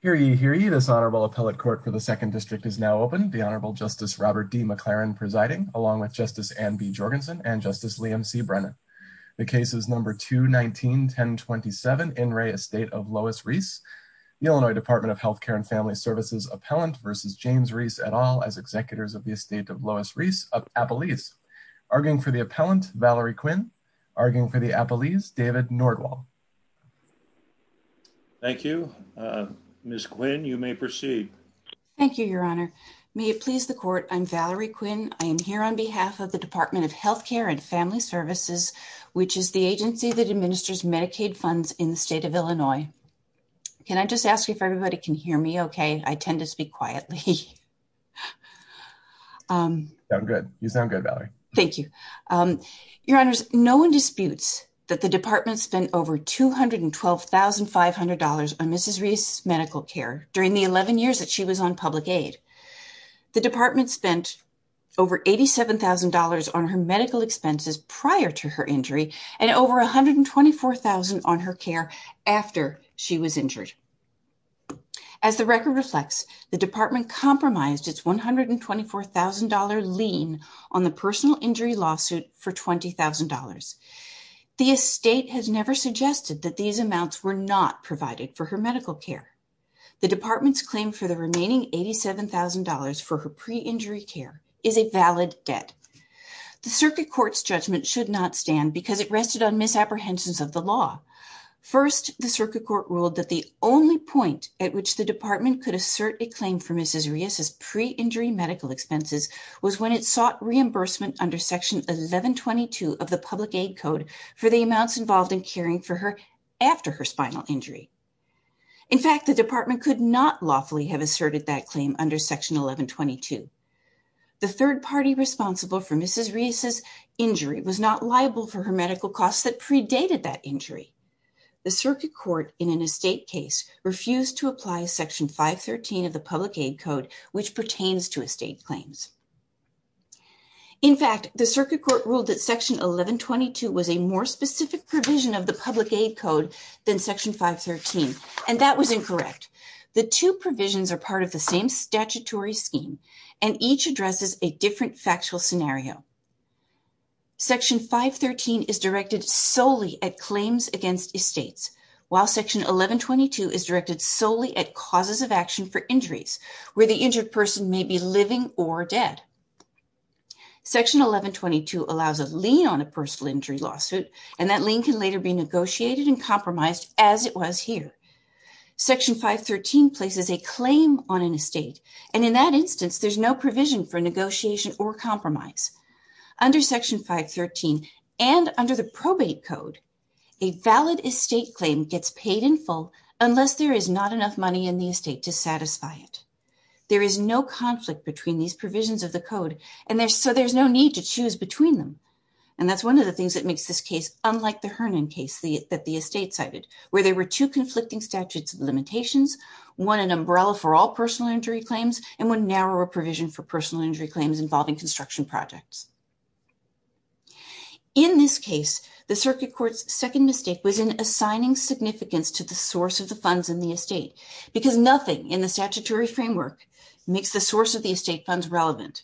Hear ye, hear ye, this Honorable Appellate Court for the 2nd District is now open. The Honorable Justice Robert D. McLaren presiding, along with Justice Anne B. Jorgensen and Justice Liam C. Brennan. The case is Number 2-19-1027, In Re Estate of Lois Ries, the Illinois Department of Health Care and Family Services Appellant versus James Ries et al. as Executors of the Estate of Lois Ries of Appalese. Arguing for the Appellant, Valerie Quinn. Arguing for the Appalese, David Nordwall. Thank you. Ms. Quinn, you may proceed. Thank you, Your Honor. May it please the Court, I'm Valerie Quinn, I am here on behalf of the Department of Health Care and Family Services, which is the agency that administers Medicaid funds in the state of Illinois. Can I just ask if everybody can hear me okay? I tend to speak quietly. You sound good, Valerie. Thank you. Your Honor, no one disputes that the Department spent over $212,500 on Mrs. Ries' medical care during the 11 years that she was on public aid. The Department spent over $87,000 on her medical expenses prior to her injury and over $124,000 on her care after she was injured. As the record reflects, the Department compromised its $124,000 lien on the personal injury lawsuit for $20,000. The Estate has never suggested that these amounts were not provided for her medical care. The Department's claim for the remaining $87,000 for her pre-injury care is a valid debt. The Circuit Court's judgment should not stand because it rested on misapprehensions of the law. First, the Circuit Court ruled that the only point at which the Department could assert a claim for Mrs. Ries' pre-injury medical expenses was when it sought reimbursement under Section 1122 of the Public Aid Code for the amounts involved in caring for her after her spinal injury. In fact, the Department could not lawfully have asserted that claim under Section 1122. The third party responsible for Mrs. Ries' injury was not liable for her medical costs that predated that injury. The Circuit Court, in an Estate case, refused to apply Section 513 of the Public Aid Code which pertains to Estate claims. In fact, the Circuit Court ruled that Section 1122 was a more specific provision of the Public Aid Code than Section 513, and that was incorrect. The two provisions are part of the same statutory scheme, and each addresses a different factual scenario. Section 513 is directed solely at claims against Estates, while Section 1122 is directed solely at causes of action for injuries, where the injured person may be living or dead. Section 1122 allows a lien on a personal injury lawsuit, and that lien can later be negotiated and compromised, as it was here. Section 513 places a claim on an Estate, and in that instance there is no provision for Under Section 513, and under the Probate Code, a valid Estate claim gets paid in full unless there is not enough money in the Estate to satisfy it. There is no conflict between these provisions of the Code, and so there is no need to choose between them. That is one of the things that makes this case unlike the Hernon case that the Estate cited, where there were two conflicting statutes of limitations, one an umbrella for all personal injury claims, and one narrower provision for personal injury claims involving construction projects. In this case, the Circuit Court's second mistake was in assigning significance to the source of the funds in the Estate, because nothing in the statutory framework makes the source of the Estate funds relevant.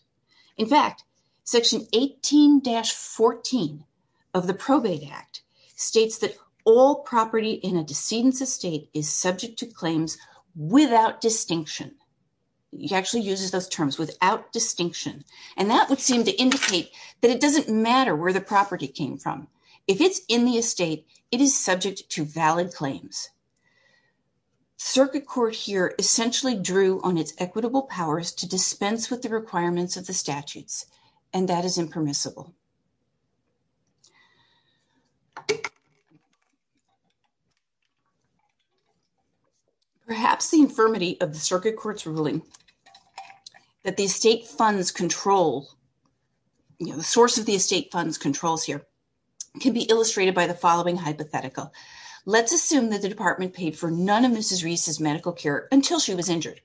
In fact, Section 18-14 of the Probate Act states that all property in a decedent's Estate is subject to claims without distinction, and that would seem to indicate that it doesn't matter where the property came from, if it is in the Estate, it is subject to valid claims. Circuit Court here essentially drew on its equitable powers to dispense with the requirements of the statutes, and that is impermissible. Perhaps the infirmity of the Circuit Court's ruling that the source of the Estate funds controls here can be illustrated by the following hypothetical. Let's assume that the Department paid for none of Mrs. Reese's medical care until she was injured.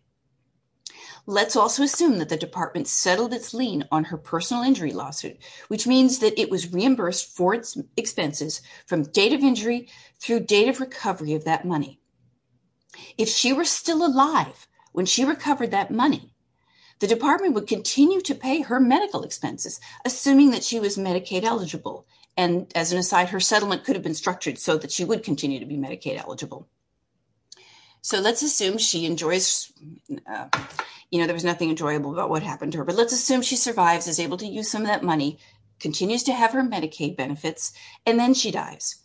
Let's also assume that the Department settled its lien on her personal injury lawsuit, which means that it was reimbursed for its expenses from date of injury through date of recovery of that money. If she were still alive when she recovered that money, the Department would continue to pay her medical expenses, assuming that she was Medicaid eligible, and as an aside, her settlement could have been structured so that she would continue to be Medicaid eligible. So, let's assume she survives, is able to use some of that money, continues to have her Medicaid benefits, and then she dies.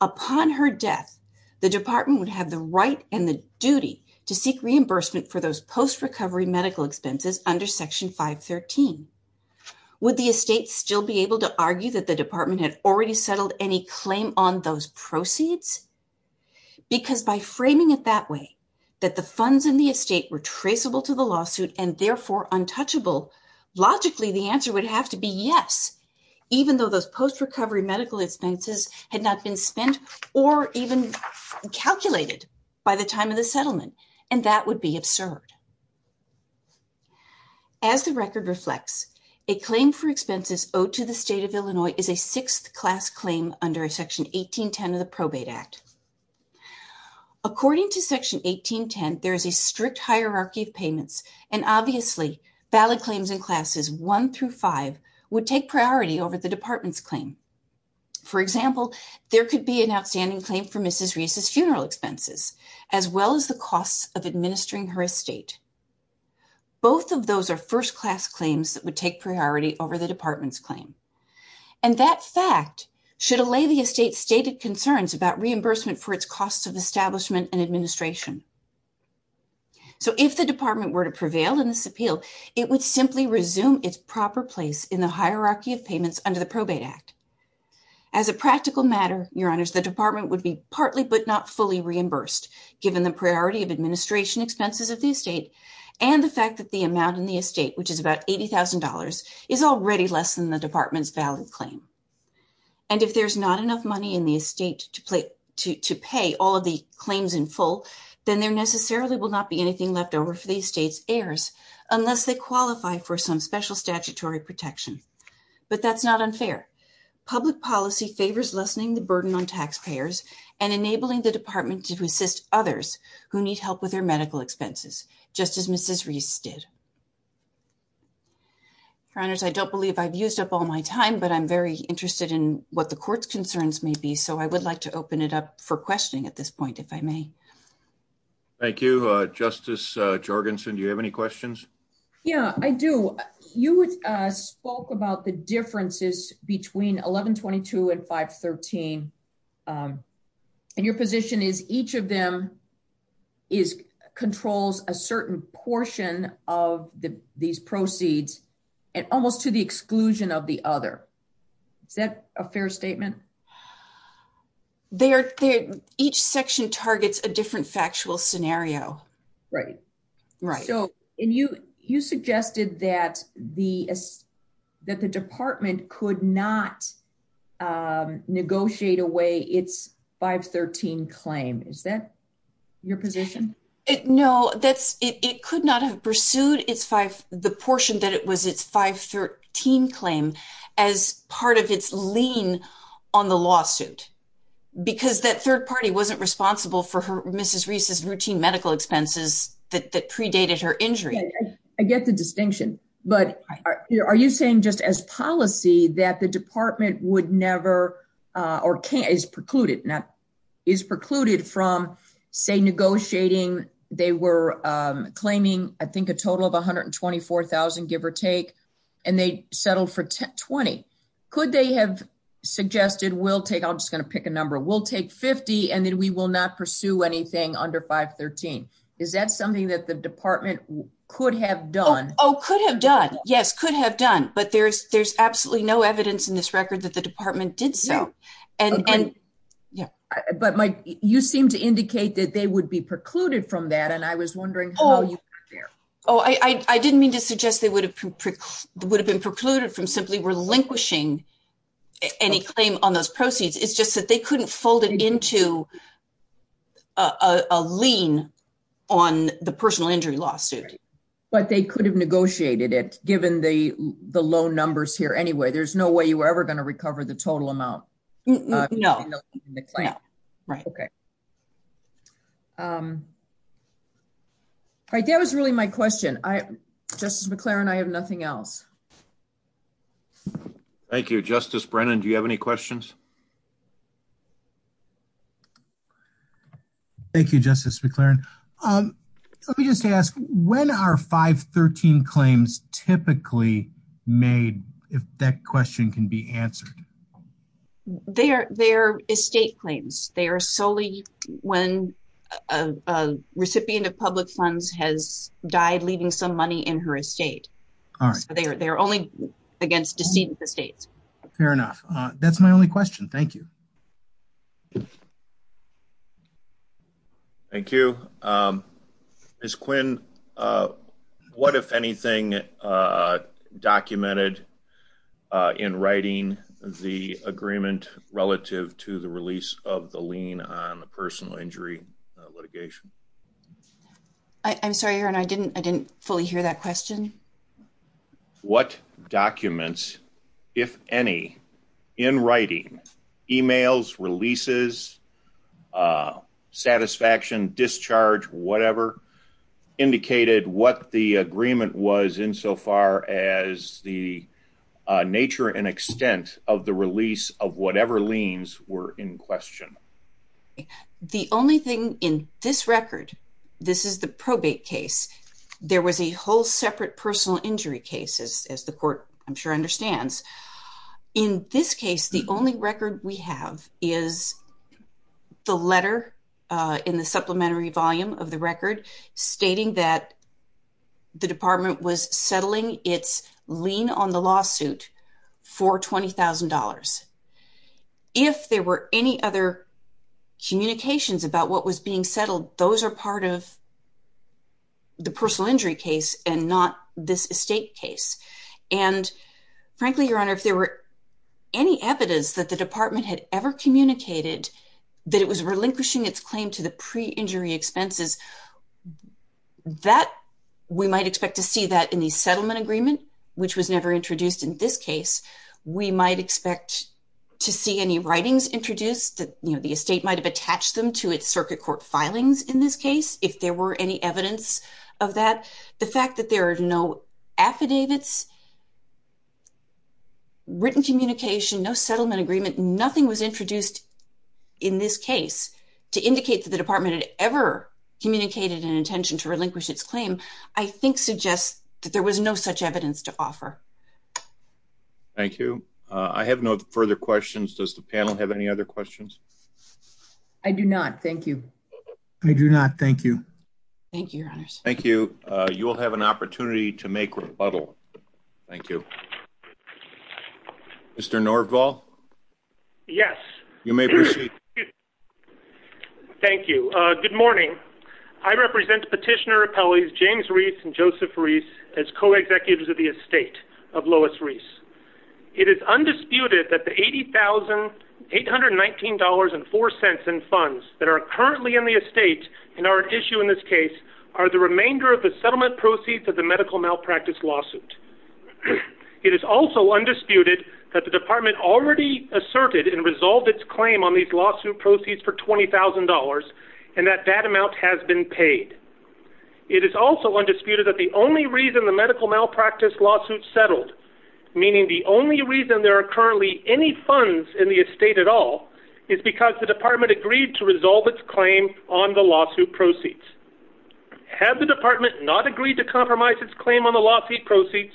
Upon her death, the Department would have the right and the duty to seek reimbursement for those post-recovery medical expenses under Section 513. Would the Estate still be able to argue that the Department had already settled any claim on those proceeds? Because by framing it that way, that the funds in the Estate were traceable to the lawsuit and therefore untouchable, logically the answer would have to be yes, even though those post-recovery medical expenses had not been spent or even calculated by the time of the settlement, and that would be absurd. As the record reflects, a claim for expenses owed to the State of Illinois is a sixth-class claim under Section 1810 of the Probate Act. According to Section 1810, there is a strict hierarchy of payments, and obviously, valid claims in Classes 1 through 5 would take priority over the Department's claim. For example, there could be an outstanding claim for Mrs. Reese's funeral expenses, as well as the costs of administering her Estate. Both of those are first-class claims that would take priority over the Department's claim. In fact, should allay the Estate's stated concerns about reimbursement for its costs of establishment and administration, if the Department were to prevail in this appeal, it would simply resume its proper place in the hierarchy of payments under the Probate Act. As a practical matter, the Department would be partly but not fully reimbursed, given the priority of administration expenses of the Estate and the fact that the amount in the Department's valid claim. And if there is not enough money in the Estate to pay all of the claims in full, then there necessarily will not be anything left over for the Estate's heirs unless they qualify for some special statutory protection. But that's not unfair. Public policy favors lessening the burden on taxpayers and enabling the Department to assist others who need help with their medical expenses, just as Mrs. Reese did. Your Honors, I don't believe I've used up all my time, but I'm very interested in what the Court's concerns may be. So I would like to open it up for questioning at this point, if I may. Thank you. Justice Jorgensen, do you have any questions? Yeah, I do. You spoke about the differences between 1122 and 513, and your position is each of them controls a certain portion of these proceeds, almost to the exclusion of the other. Is that a fair statement? Each section targets a different factual scenario. Right. So, and you suggested that the Department could not negotiate away its 513 claim. Is that your position? No, it could not have pursued the portion that it was its 513 claim as part of its lean on the lawsuit, because that third party wasn't responsible for Mrs. Reese's routine medical expenses that predated her injury. I get the distinction, but are you saying just as policy that the Department would never, or is precluded from, say, negotiating, they were claiming, I think, a total of 124,000, give or take, and they settled for 20. Could they have suggested, we'll take, I'm just going to pick a number, we'll take 50, and then we will not pursue anything under 513. Is that something that the Department could have done? Oh, could have done. Yes, could have done. But there's absolutely no evidence in this record that the Department did so. Yeah. But, Mike, you seem to indicate that they would be precluded from that, and I was wondering how you got there. Oh, I didn't mean to suggest they would have been precluded from simply relinquishing any claim on those proceeds. It's just that they couldn't fold it into a lean on the personal injury lawsuit. But they could have negotiated it, given the low numbers here anyway. There's no way you were ever going to recover the total amount. No. Right. Okay. All right, that was really my question. Justice McClaren, I have nothing else. Thank you. Justice Brennan, do you have any questions? Thank you, Justice McClaren. Let me just ask, when are 513 claims typically made, if that question can be answered? They're estate claims. They are solely when a recipient of public funds has died, leaving some money in her estate. All right. So they're only against decedent estates. Fair enough. That's my only question. Thank you. Thank you. Thank you. Ms. Quinn, what, if anything, documented in writing the agreement relative to the release of the lean on the personal injury litigation? I'm sorry, Your Honor, I didn't fully hear that question. What documents, if any, in writing, emails, releases, satisfaction, discharge, whatever, indicated what the agreement was insofar as the nature and extent of the release of whatever liens were in question? The only thing in this record, this is the probate case, there was a whole separate personal injury case, as the court, I'm sure, understands. In this case, the only record we have is the letter in the supplementary volume of the record stating that the department was settling its lean on the lawsuit for $20,000. If there were any other communications about what was being settled, those are part of the personal injury case and not this estate case. And frankly, Your Honor, if there were any evidence that the department had ever communicated that it was relinquishing its claim to the pre-injury expenses, that, we might expect to see that in the settlement agreement, which was never introduced in this case. We might expect to see any writings introduced, you know, the estate might have attached them to its circuit court filings in this case, if there were any evidence of that. The fact that there are no affidavits, written communication, no settlement agreement, nothing was introduced in this case to indicate that the department had ever communicated an intention to relinquish its claim, I think suggests that there was no such evidence to offer. Thank you. I have no further questions. Does the panel have any other questions? I do not. Thank you. I do not. Thank you. Thank you, Your Honors. Thank you. You will have an opportunity to make rebuttal. Thank you. Mr. Norvall? Yes. You may proceed. Thank you. Good morning. I represent Petitioner Appellees James Reese and Joseph Reese as co-executives of the estate of Lois Reese. It is undisputed that the $80,819.04 in funds that are currently in the estate and are at issue in this case are the remainder of the settlement proceeds of the medical malpractice lawsuit. It is also undisputed that the department already asserted and resolved its claim on these lawsuit proceeds for $20,000 and that that amount has been paid. It is also undisputed that the only reason the medical malpractice lawsuit settled, meaning the only reason there are currently any funds in the estate at all, is because the department agreed to resolve its claim on the lawsuit proceeds. Had the department not agreed to compromise its claim on the lawsuit proceeds,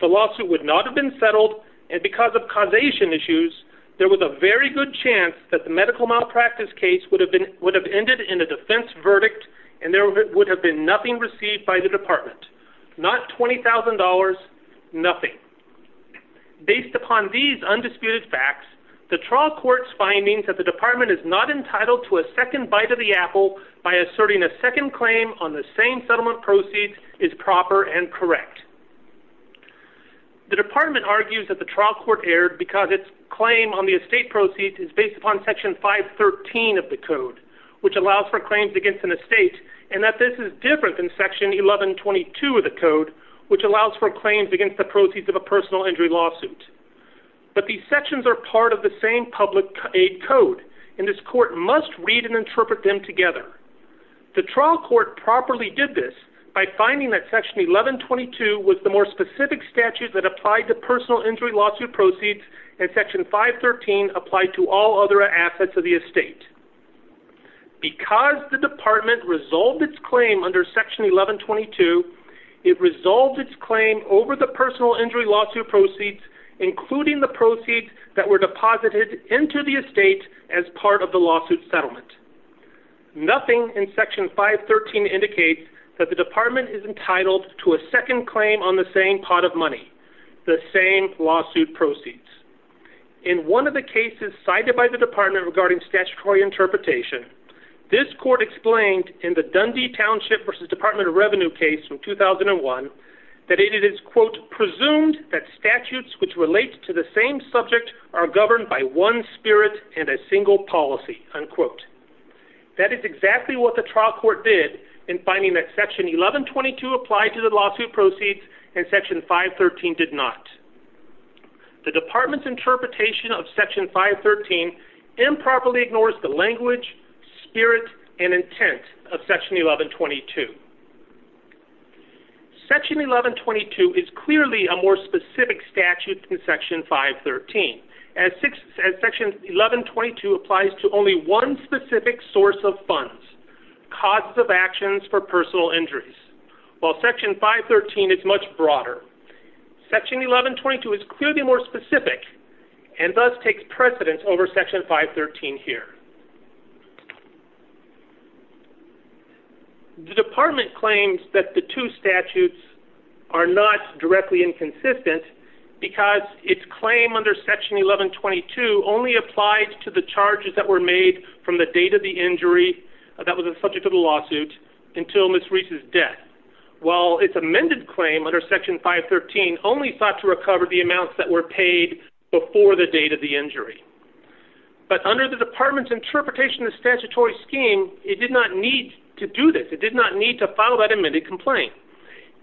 the lawsuit would not have been settled, and because of causation issues, there was a very good chance that the medical malpractice case would have ended in a defense verdict and there would have been nothing received by the department. Not $20,000, nothing. Based upon these undisputed facts, the trial court's findings that the department is not entitled to a second bite of the apple by asserting a second claim on the same settlement proceeds is proper and correct. The department argues that the trial court erred because its claim on the estate proceeds is based upon Section 513 of the code, which allows for claims against an estate, and that this is different than Section 1122 of the code, which allows for claims against the proceeds of a personal injury lawsuit. But these sections are part of the same public aid code, and this court must read and interpret them together. The trial court properly did this by finding that Section 1122 was the more specific statute that applied to personal injury lawsuit proceeds and Section 513 applied to all other assets of the estate. Because the department resolved its claim under Section 1122, it resolved its claim over the personal injury lawsuit proceeds, including the proceeds that were deposited into the estate as part of the lawsuit settlement. Nothing in Section 513 indicates that the department is entitled to a second claim on the same pot of money, the same lawsuit proceeds. In one of the cases cited by the department regarding statutory interpretation, this court explained in the Dundee Township versus Department of Revenue case from 2001 that it is, quote, presumed that statutes which relate to the same subject are governed by one spirit and a single policy, unquote. That is exactly what the trial court did in finding that Section 1122 applied to the lawsuit proceeds and Section 513 did not. The department's interpretation of Section 513 improperly ignores the language, spirit, and intent of Section 1122. Section 1122 is clearly a more specific statute than Section 513. As Section 1122 applies to only one specific source of funds, causes of actions for personal injuries, while Section 513 is much broader. Section 1122 is clearly more specific and thus takes precedence over Section 513 here. The department claims that the two statutes are not directly inconsistent because its claim under Section 1122 only applied to the charges that were made from the date of the injury that was the subject of the lawsuit until Ms. Reese's death, while its amended claim under Section 513 only sought to recover the amounts that were paid before the date of the injury. But under the department's interpretation of the statutory scheme, it did not need to do this. It did not need to file that amended complaint.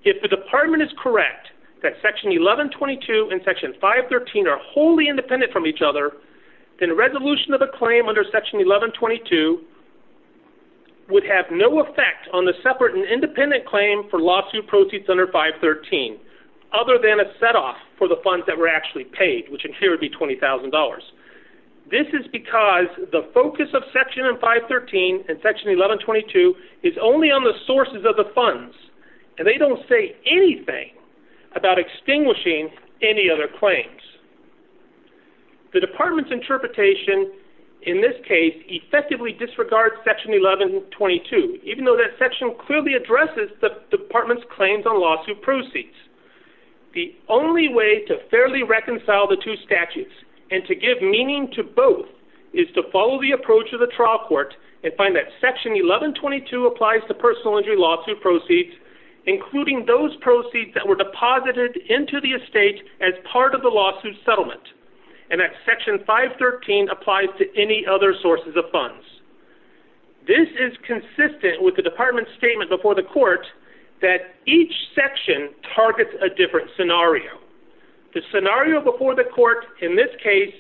If the department is correct that Section 1122 and Section 513 are wholly independent from each other, then a resolution of the claim under Section 1122 would have no effect on the separate and independent claim for lawsuit proceeds under 513, other than a setoff for the funds that were actually paid, which in here would be $20,000. This is because the focus of Section 513 and Section 1122 is only on the sources of the lawsuit, and they don't say anything about extinguishing any other claims. The department's interpretation in this case effectively disregards Section 1122, even though that section clearly addresses the department's claims on lawsuit proceeds. The only way to fairly reconcile the two statutes and to give meaning to both is to follow the approach of the trial court and find that Section 1122 applies to personal injury lawsuit proceeds, including those proceeds that were deposited into the estate as part of the lawsuit settlement, and that Section 513 applies to any other sources of funds. This is consistent with the department's statement before the court that each section targets a different scenario. The scenario before the court in this case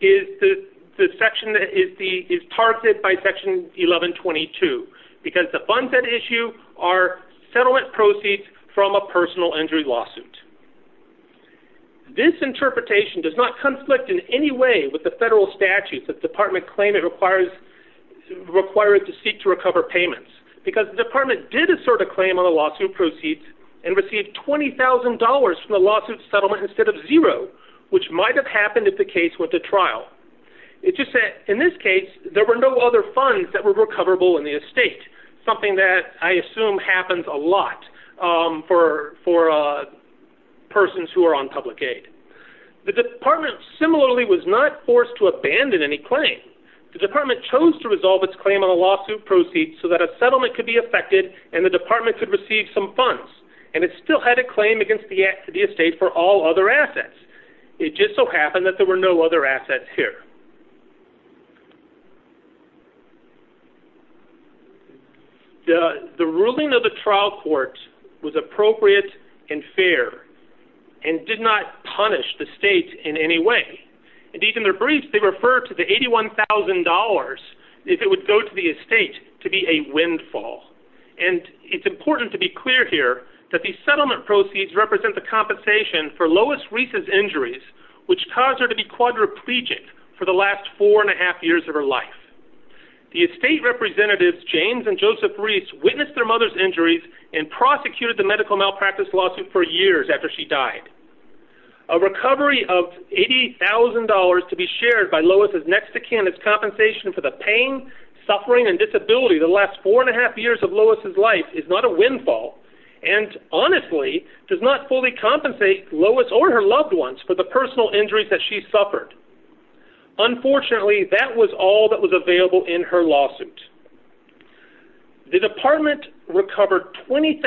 is the section that is targeted by Section 1122, because the funds at issue are settlement proceeds from a personal injury lawsuit. This interpretation does not conflict in any way with the federal statute that the department claims it requires to seek to recover payments, because the department did assert a claim on the lawsuit proceeds and received $20,000 from the lawsuit settlement instead of zero, which might have happened if the case went to trial. In this case, there were no other funds that were recoverable in the estate, something that I assume happens a lot for persons who are on public aid. The department similarly was not forced to abandon any claim. The department chose to resolve its claim on a lawsuit proceeds so that a settlement could be affected and the department could receive some funds, and it still had a claim against the estate for all other assets. It just so happened that there were no other assets here. The ruling of the trial court was appropriate and fair and did not punish the state in any way. Indeed, in their briefs, they refer to the $81,000, if it would go to the estate, to be a windfall. And it's important to be clear here that the settlement proceeds represent the compensation for Lois Reese's injuries, which caused her to be quadriplegic for the last four and a half years of her life. The estate representatives, James and Joseph Reese, witnessed their mother's injuries and prosecuted the medical malpractice lawsuit for years after she died. A recovery of $80,000 to be shared by Lois' next of kin as compensation for the pain, suffering, and disability the last four and a half years of Lois' life is not a windfall and, honestly, does not fully compensate Lois or her loved ones for the personal injuries that she suffered. Unfortunately, that was all that was available in her lawsuit. The department recovered $20,000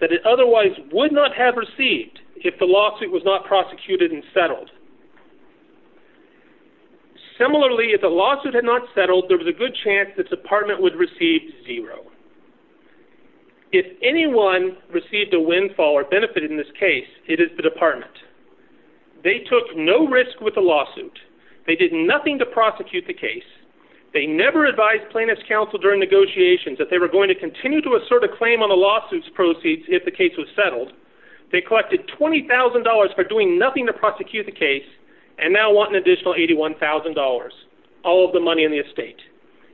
that it otherwise would not have received if the lawsuit was not prosecuted and settled. Similarly, if the lawsuit had not settled, there was a good chance the department would receive zero. If anyone received a windfall or benefited in this case, it is the department. They took no risk with the lawsuit. They did nothing to prosecute the case. They never advised plaintiff's counsel during negotiations that they were going to continue to assert a claim on the lawsuit's proceeds if the case was settled. They collected $20,000 for doing nothing to prosecute the case and now want an additional $81,000, all of the money in the estate.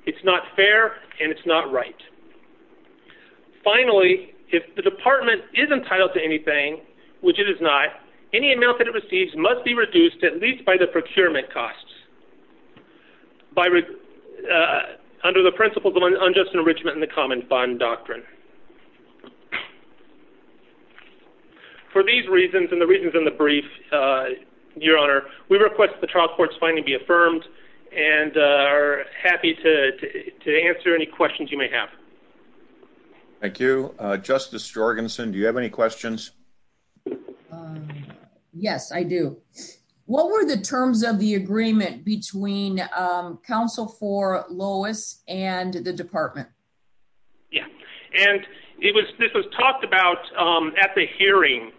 It's not fair and it's not right. Finally, if the department is entitled to anything, which it is not, any amount that it receives must be reduced at least by the procurement costs under the principles of unjust enrichment and the common fund doctrine. For these reasons and the reasons in the brief, Your Honor, we request that the trial court's finding be affirmed and are happy to answer any questions you may have. Thank you. Justice Jorgensen, do you have any questions? Yes, I do. What were the terms of the agreement between counsel for Lois and the department? Yeah, and this was talked about at the hearing,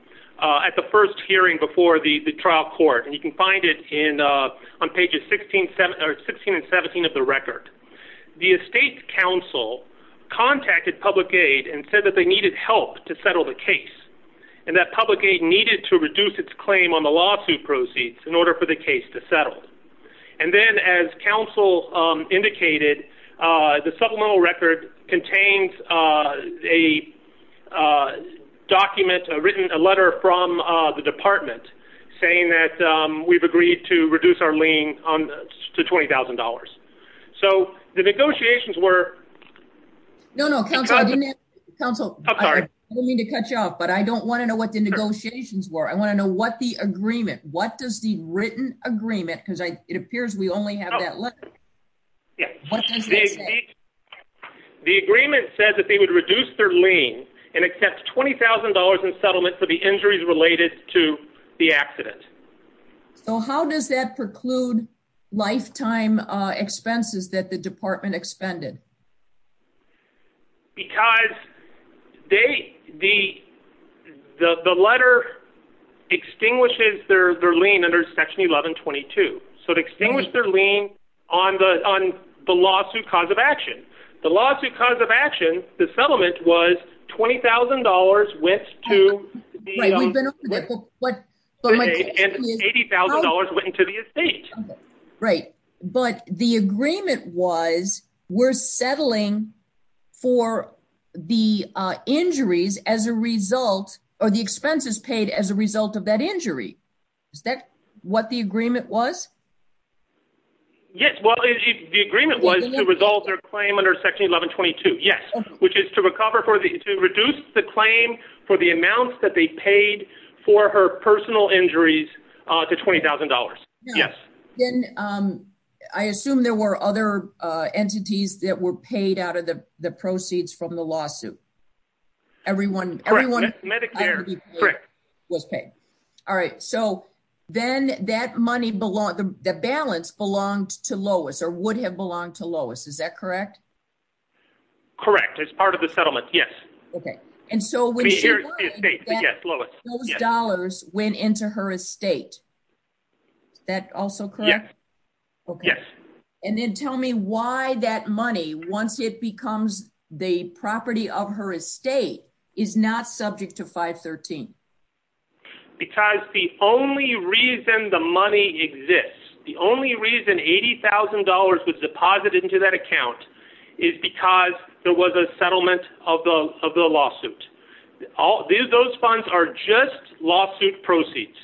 at the first hearing before the trial court. And you can find it on pages 16 and 17 of the record. The estate counsel contacted public aid and said that they needed help to settle the case and that public aid needed to reduce its claim on the lawsuit proceeds in order for the case to settle. And then as counsel indicated, the supplemental record contains a document, a written letter from the department saying that we've agreed to reduce our lien to $20,000. So the negotiations were. No, no, counsel, I didn't mean to cut you off, but I don't want to know what the negotiations were. I want to know what the agreement, what does the written agreement, because it appears we only have that letter. What does it say? The agreement says that they would reduce their lien and accept $20,000 in settlement for the injuries related to the accident. So how does that preclude lifetime expenses that the department expended? Because the letter extinguishes their lien under Section 1122. So it extinguished their lien on the lawsuit cause of action. The lawsuit cause of action, the settlement was $20,000 went to the estate. Right. But the agreement was we're settling for the injuries as a result or the expenses paid as a result of that injury. Is that what the agreement was? Yes. Well, the agreement was to resolve their claim under Section 1122. Yes. Which is to recover for the to reduce the claim for the amounts that they paid for her personal injuries to $20,000. Yes. Then I assume there were other entities that were paid out of the proceeds from the lawsuit. Correct. Medicare was paid. All right. So then that money, the balance belonged to Lois or would have belonged to Lois. Is that correct? Correct. As part of the settlement. Yes. Okay. And so when she lied, those dollars went into her estate. Is that also correct? Yes. And then tell me why that money, once it becomes the property of her estate, is not subject to 513. Because the only reason the money exists, the only reason $80,000 was deposited into that account is because there was a settlement of the lawsuit. Those funds are just lawsuit proceeds,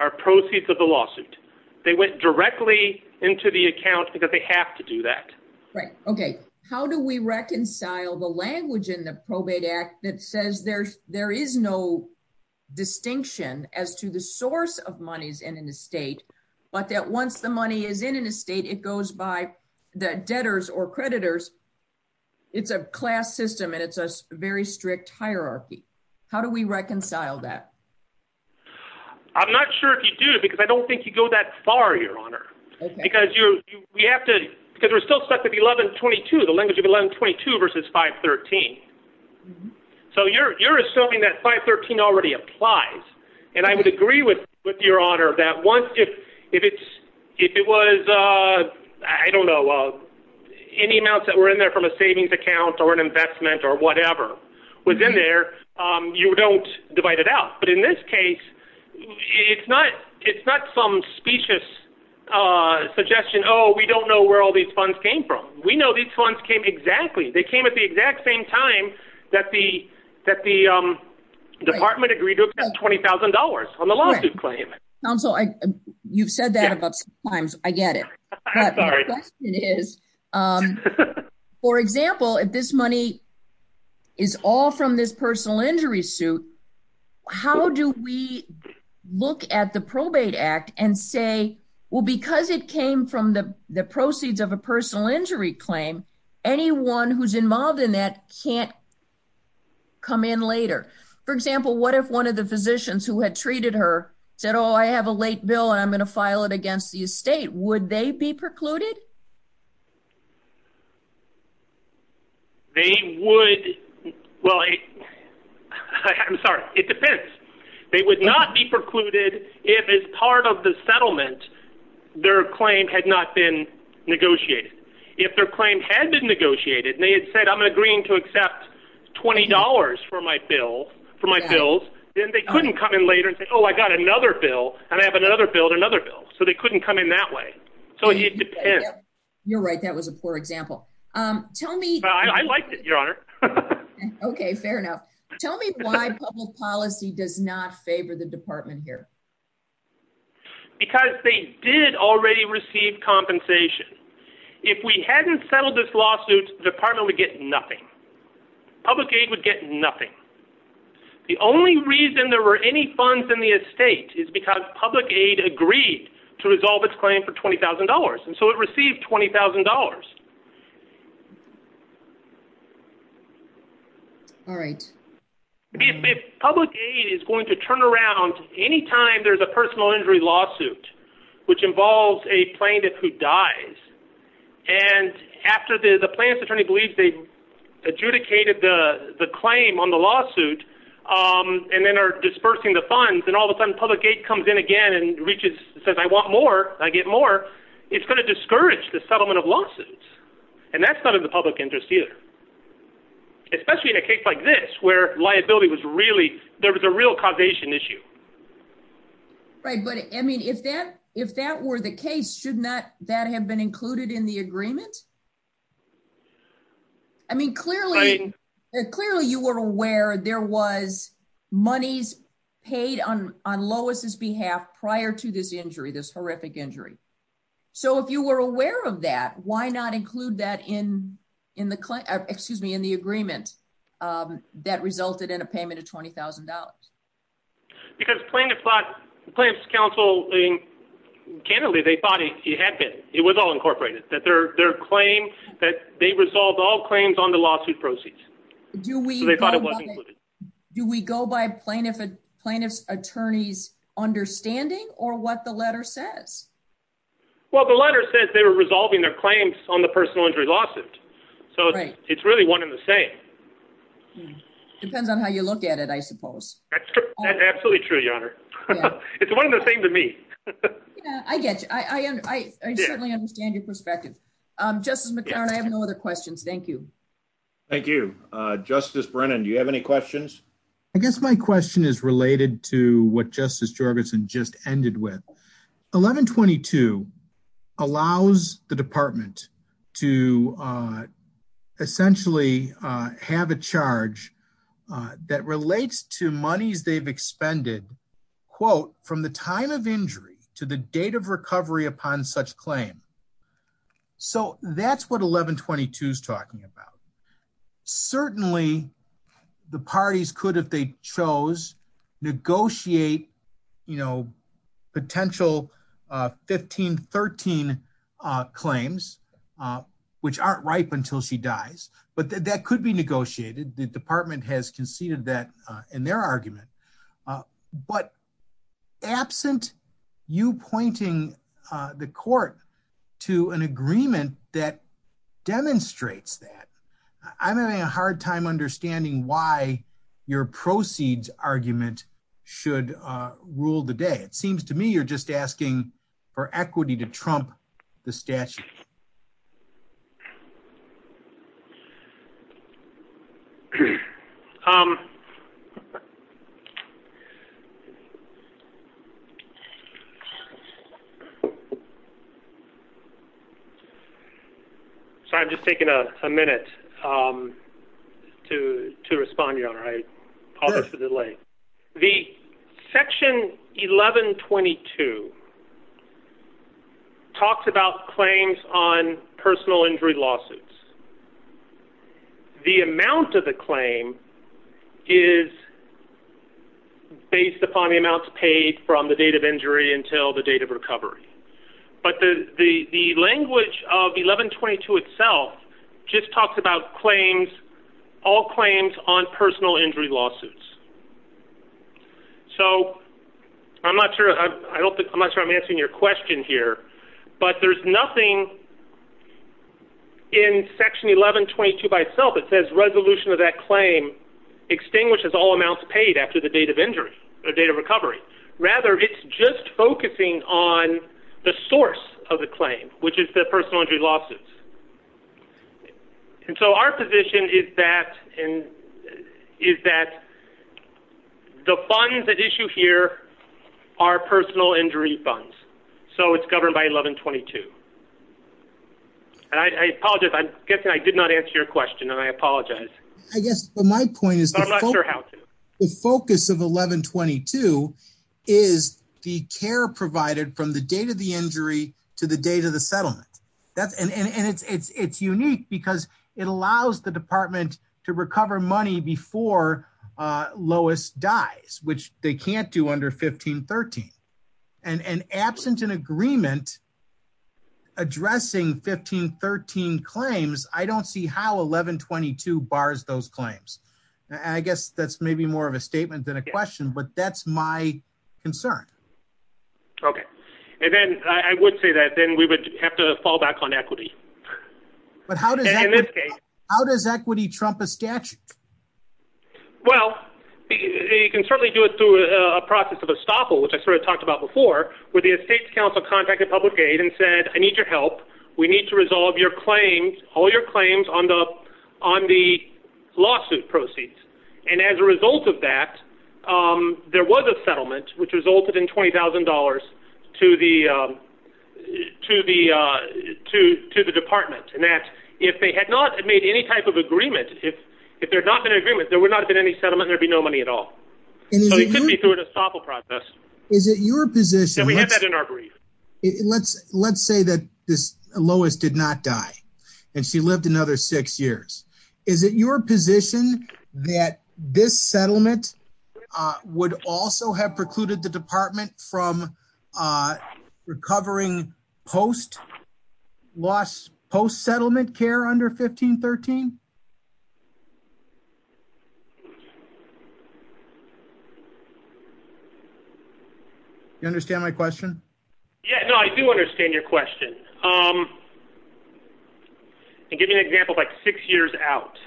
are proceeds of the lawsuit. They went directly into the account because they have to do that. Right. Okay. How do we reconcile the language in the Probate Act that says there is no distinction as to the source of monies in an estate, but that once the money is in an estate, it goes by the debtors or creditors? It's a class system and it's a very strict hierarchy. How do we reconcile that? I'm not sure if you do, because I don't think you go that far, Your Honor, because we're still stuck with the language of 1122 versus 513. So you're assuming that 513 already applies. And I would agree with Your Honor that once, if it was, I don't know, any amounts that were in there from a savings account or an investment or whatever was in there, you don't divide it out. But in this case, it's not some specious suggestion, oh, we don't know where all these funds came from. We know these funds came exactly, they came at the exact same time that the department agreed to accept $20,000 on the lawsuit claim. Counsel, you've said that about six times, I get it. But my question is, for example, if this money is all from this personal injury suit, how do we look at the Probate Act and say, well, because it came from the proceeds of a personal injury claim, anyone who's involved in that can't come in later? For example, what if one of the physicians who had treated her said, oh, I have a late bill, and I'm going to file it against the estate, would they be precluded? They would, well, I'm sorry, it depends. They would not be precluded if as part of the settlement, their claim had not been negotiated. If their claim had been negotiated, and they had said, I'm agreeing to accept $20 for my bill, for my bills, then they couldn't come in later and say, oh, I got another bill, and I have another bill and another bill. So they couldn't come in that way. So it depends. You're right, that was a poor example. I liked it, Your Honor. Okay, fair enough. Tell me why public policy does not favor the department here. Because they did already receive compensation. If we hadn't settled this lawsuit, the department would get nothing. Public aid would get nothing. The only reason there were any funds in the estate is because public aid agreed to resolve its claim for $20,000, and so it received $20,000. All right. If public aid is going to turn around any time there's a personal injury lawsuit, which involves a plaintiff who dies, and after the plaintiff believes they adjudicated the claim on the lawsuit, and then are dispersing the funds, and all of a sudden public aid comes in again and reaches, says, I want more, I get more, it's going to discourage the settlement of lawsuits. And that's not in the public interest either. Especially in a case like this where liability was really, there was a real causation issue. Right, but I mean, if that were the case, shouldn't that have been included in the agreement? I mean, clearly you were aware there was monies paid on Lois' behalf prior to this injury, this horrific injury. So if you were aware of that, why not include that in the agreement that resulted in a payment of $20,000? Because plaintiffs thought, plaintiffs' counsel, candidly, they thought it had been, it was all incorporated, that their claim, that they resolved all claims on the lawsuit proceeds. Do we go by plaintiff's attorney's understanding or what the letter says? Well, the letter says they were resolving their claims on the personal injury lawsuit, so it's really one and the same. Depends on how you look at it, I suppose. That's absolutely true, Your Honor. It's one and the same to me. Yeah, I get you. I certainly understand your perspective. Justice McClaren, I have no other questions. Thank you. Thank you. Justice Brennan, do you have any questions? I guess my question is related to what Justice Jorgensen just ended with. 1122 allows the Department to essentially have a charge that relates to monies they've expended, quote, from the time of injury to the date of recovery upon such claim. So that's what 1122 is talking about. Certainly, the parties could, if they chose, negotiate, you know, potential 1513 claims, which aren't ripe until she dies, but that could be negotiated. The Department has conceded that in their argument. But absent you pointing the court to an agreement that demonstrates that, I'm having a hard time understanding why your proceeds argument should rule the day. It seems to me you're just asking for equity to trump the statute. So I'm just taking a minute to respond, Your Honor. I apologize for the delay. The section 1122 talks about claims on personal injury lawsuits. The amount of the claim is based upon the amounts paid from the date of injury until the date of recovery. But the language of 1122 itself just talks about claims, all claims on personal injury lawsuits. So I'm not sure I'm answering your question here, but there's nothing in section 1122 by itself that says resolution of that claim extinguishes all amounts paid after the date of injury or date of recovery. Rather, it's just focusing on the source of the claim, which is the personal injury lawsuits. And so our position is that the funds at issue here are personal injury funds. So it's governed by 1122. And I apologize. I'm guessing I did not answer your question, and I apologize. I guess my point is the focus of 1122 is the care provided from the date of the injury to the date of the settlement. And it's unique because it allows the department to recover money before Lois dies, which they can't do under 1513. And absent an agreement addressing 1513 claims, I don't see how 1122 bars those claims. I guess that's maybe more of a statement than a question, but that's my concern. Okay. And then I would say that then we would have to fall back on equity. But how does equity trump a statute? Well, you can certainly do it through a process of estoppel, which I sort of talked about before, where the Estates Council contacted Public Aid and said, I need your help. We need to resolve your claims, all your claims on the lawsuit proceeds. And as a result of that, there was a settlement, which resulted in $20,000 to the department. And that if they had not made any type of agreement, if there had not been an agreement, there would not have been any settlement, there'd be no money at all. So it could be through an estoppel process. Is it your position... And we have that in our brief. Let's say that Lois did not die, and she lived another six years. Is it your position that this settlement would also have precluded the department from recovering post-settlement care under 1513? Do you understand my question? Yeah, no, I do understand your question. And give me an example, like six years out.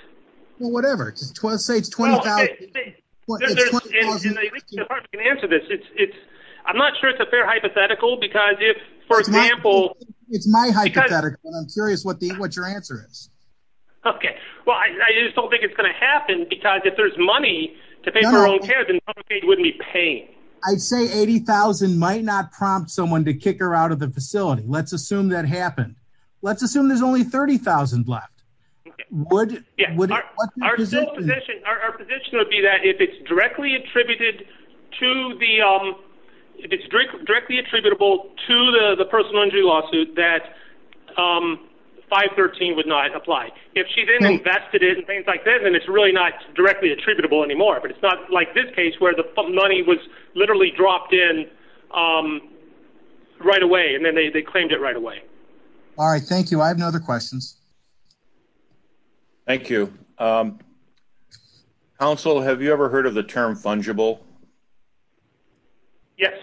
Well, whatever, say it's $20,000. And I think the department can answer this. I'm not sure it's a fair hypothetical, because if, for example... It's my hypothetical, and I'm curious what your answer is. Okay, well, I just don't think it's going to happen, because if there's money to pay for her own care, then Public Aid wouldn't be paying. I'd say $80,000 might not prompt someone to kick her out of the facility. Let's assume that happened. Let's assume there's only $30,000 left. Would... Our position would be that if it's directly attributed to the... If it's directly attributable to the personal injury lawsuit, that 513 would not apply. If she then invested it and things like that, then it's really not directly attributable anymore. But it's not like this case where the money was literally dropped in right away, and then they claimed it right away. All right, thank you. I have no other questions. Thank you. Counsel, have you ever heard of the term fungible? Yes.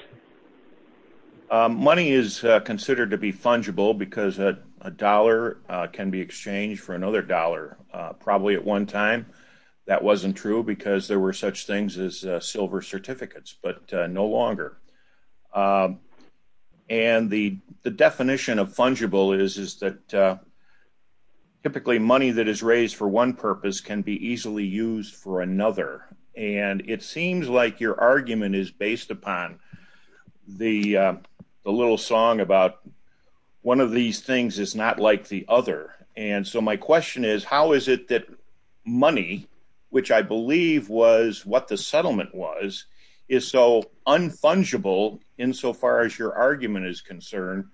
Money is considered to be fungible, because a dollar can be exchanged for another dollar. Probably at one time, that wasn't true, because there were such things as silver certificates, but no longer. And the definition of fungible is that typically money that is raised for one purpose can be easily used for another. And it seems like your argument is based upon the little song about one of these things is not like the other. And so my question is, how is it that money, which I believe was what the settlement was, is so unfungible, insofar as your argument is concerned,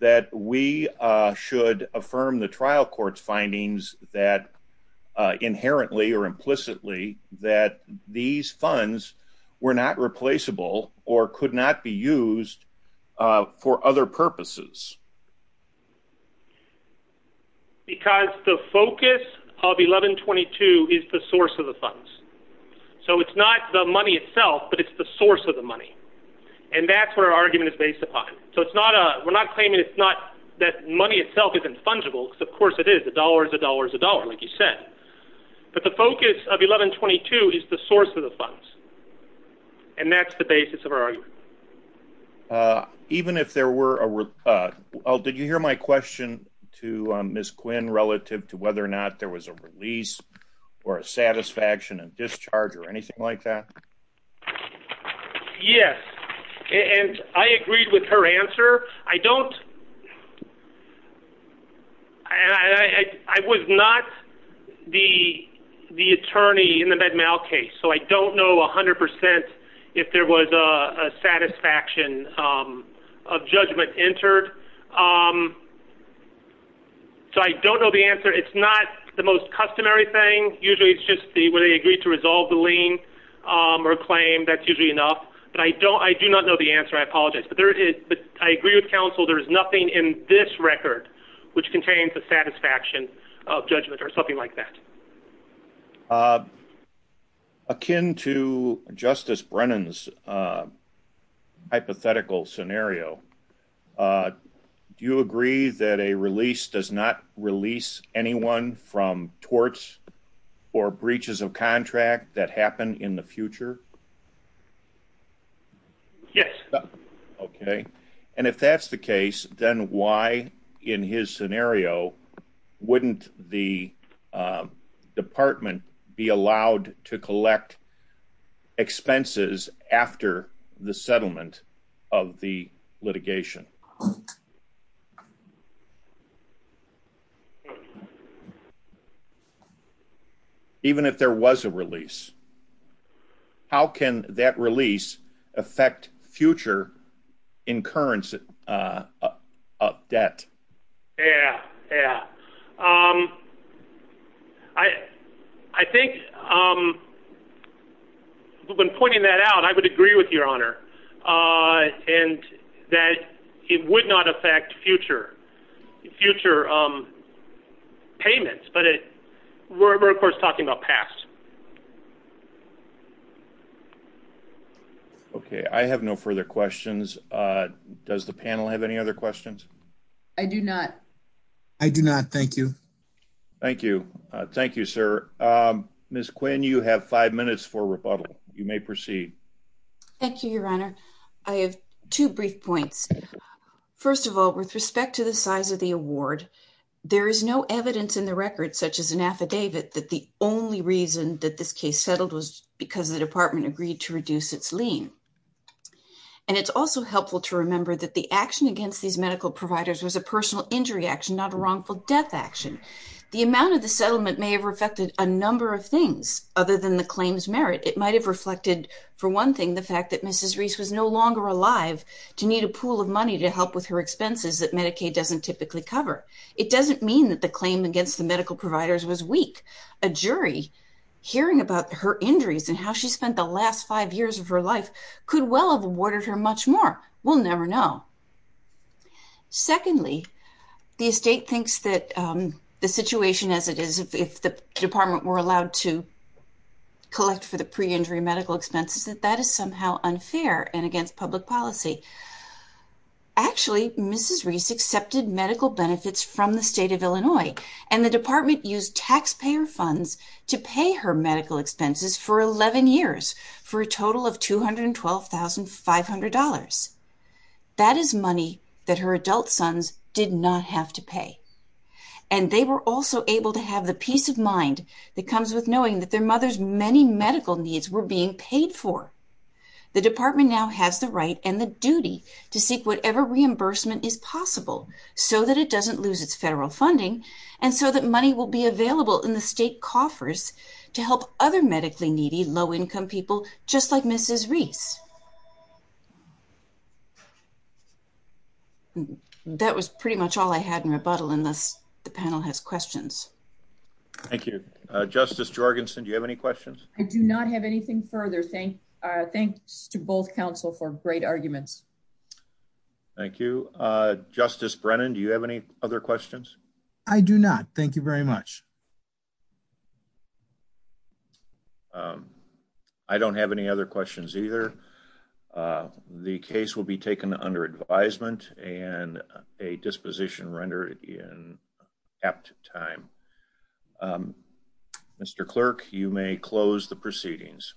that we should affirm the trial court's findings that inherently or implicitly that these funds were not replaceable or could not be used for other purposes? Because the focus of 1122 is the source of the funds. So it's not the money itself, but it's the source of the money. And that's what our argument is based upon. So we're not claiming that money itself isn't fungible, because of course it is. A dollar is a dollar is a dollar, like you said. But the focus of 1122 is the source of the funds. And that's the basis of our argument. Even if there were a... Did you hear my question to Ms. Quinn relative to whether or not there was a release or a satisfaction and discharge or anything like that? Yes. And I agreed with her answer. I don't... There is no satisfaction of judgment entered. So I don't know the answer. It's not the most customary thing. Usually it's just where they agree to resolve the lien or claim. That's usually enough. But I do not know the answer. I apologize. But I agree with counsel. There is nothing in this record which contains the satisfaction of judgment or something like that. Akin to Justice Brennan's hypothetical scenario, do you agree that a release does not release anyone from torts or breaches of contract that happen in the future? Yes. Okay. And if that's the case, then why in his scenario wouldn't the department be allowed to collect expenses after the settlement of the litigation? Even if there was a release, how can that release affect future incurrence of debt? Yeah. Yeah. I think when pointing that out, I would agree with your honor and that it would not affect future payments. But we're of course talking about past. Okay. I have no further questions. Does the panel have any other questions? I do not. I do not. Thank you. Thank you. Thank you, sir. Ms. Quinn, you have five minutes for rebuttal. You may proceed. Thank you, your honor. I have two brief points. First of all, with respect to the size of the award, there is no evidence in the record such as an affidavit that the only reason that this case settled was because the department agreed to reduce its lien. And it's also helpful to remember that the action against these medical providers was a personal injury action, not a wrongful death action. The amount of the settlement may have affected a number of things other than the claims merit. It might have reflected, for one thing, the fact that Mrs. Reese was no longer alive to need a pool of money to help with her expenses that Medicaid doesn't typically cover. It doesn't mean that the claim against the medical providers was weak. A jury hearing about her injuries and how she spent the last five years of her life could well have awarded her much more. We'll never know. Secondly, the estate thinks that the situation as it is, if the department were allowed to collect for the pre-injury medical expenses, that that is somehow unfair and against public policy. Actually, Mrs. Reese accepted medical benefits from the state of Illinois, and the department used taxpayer funds to pay her medical expenses for 11 years for a total of $212,500. That is money that her adult sons did not have to pay. And they were also able to have the peace of mind that comes with knowing that their mother's many medical needs were being paid for. The department now has the right and the duty to seek whatever reimbursement is possible so that it doesn't lose its federal funding and so that money will be available in the state coffers to help other medically needy low-income people just like Mrs. Reese. That was pretty much all I had in rebuttal unless the panel has questions. Thank you. Justice Jorgensen, do you have any questions? I do not have anything further. Thanks to both counsel for great arguments. Thank you. Justice Brennan, do you have any other questions? I do not. Thank you very much. I don't have any other questions either. The case will be taken under advisement and a disposition rendered in apt time. Mr. Clerk, you may close the proceedings.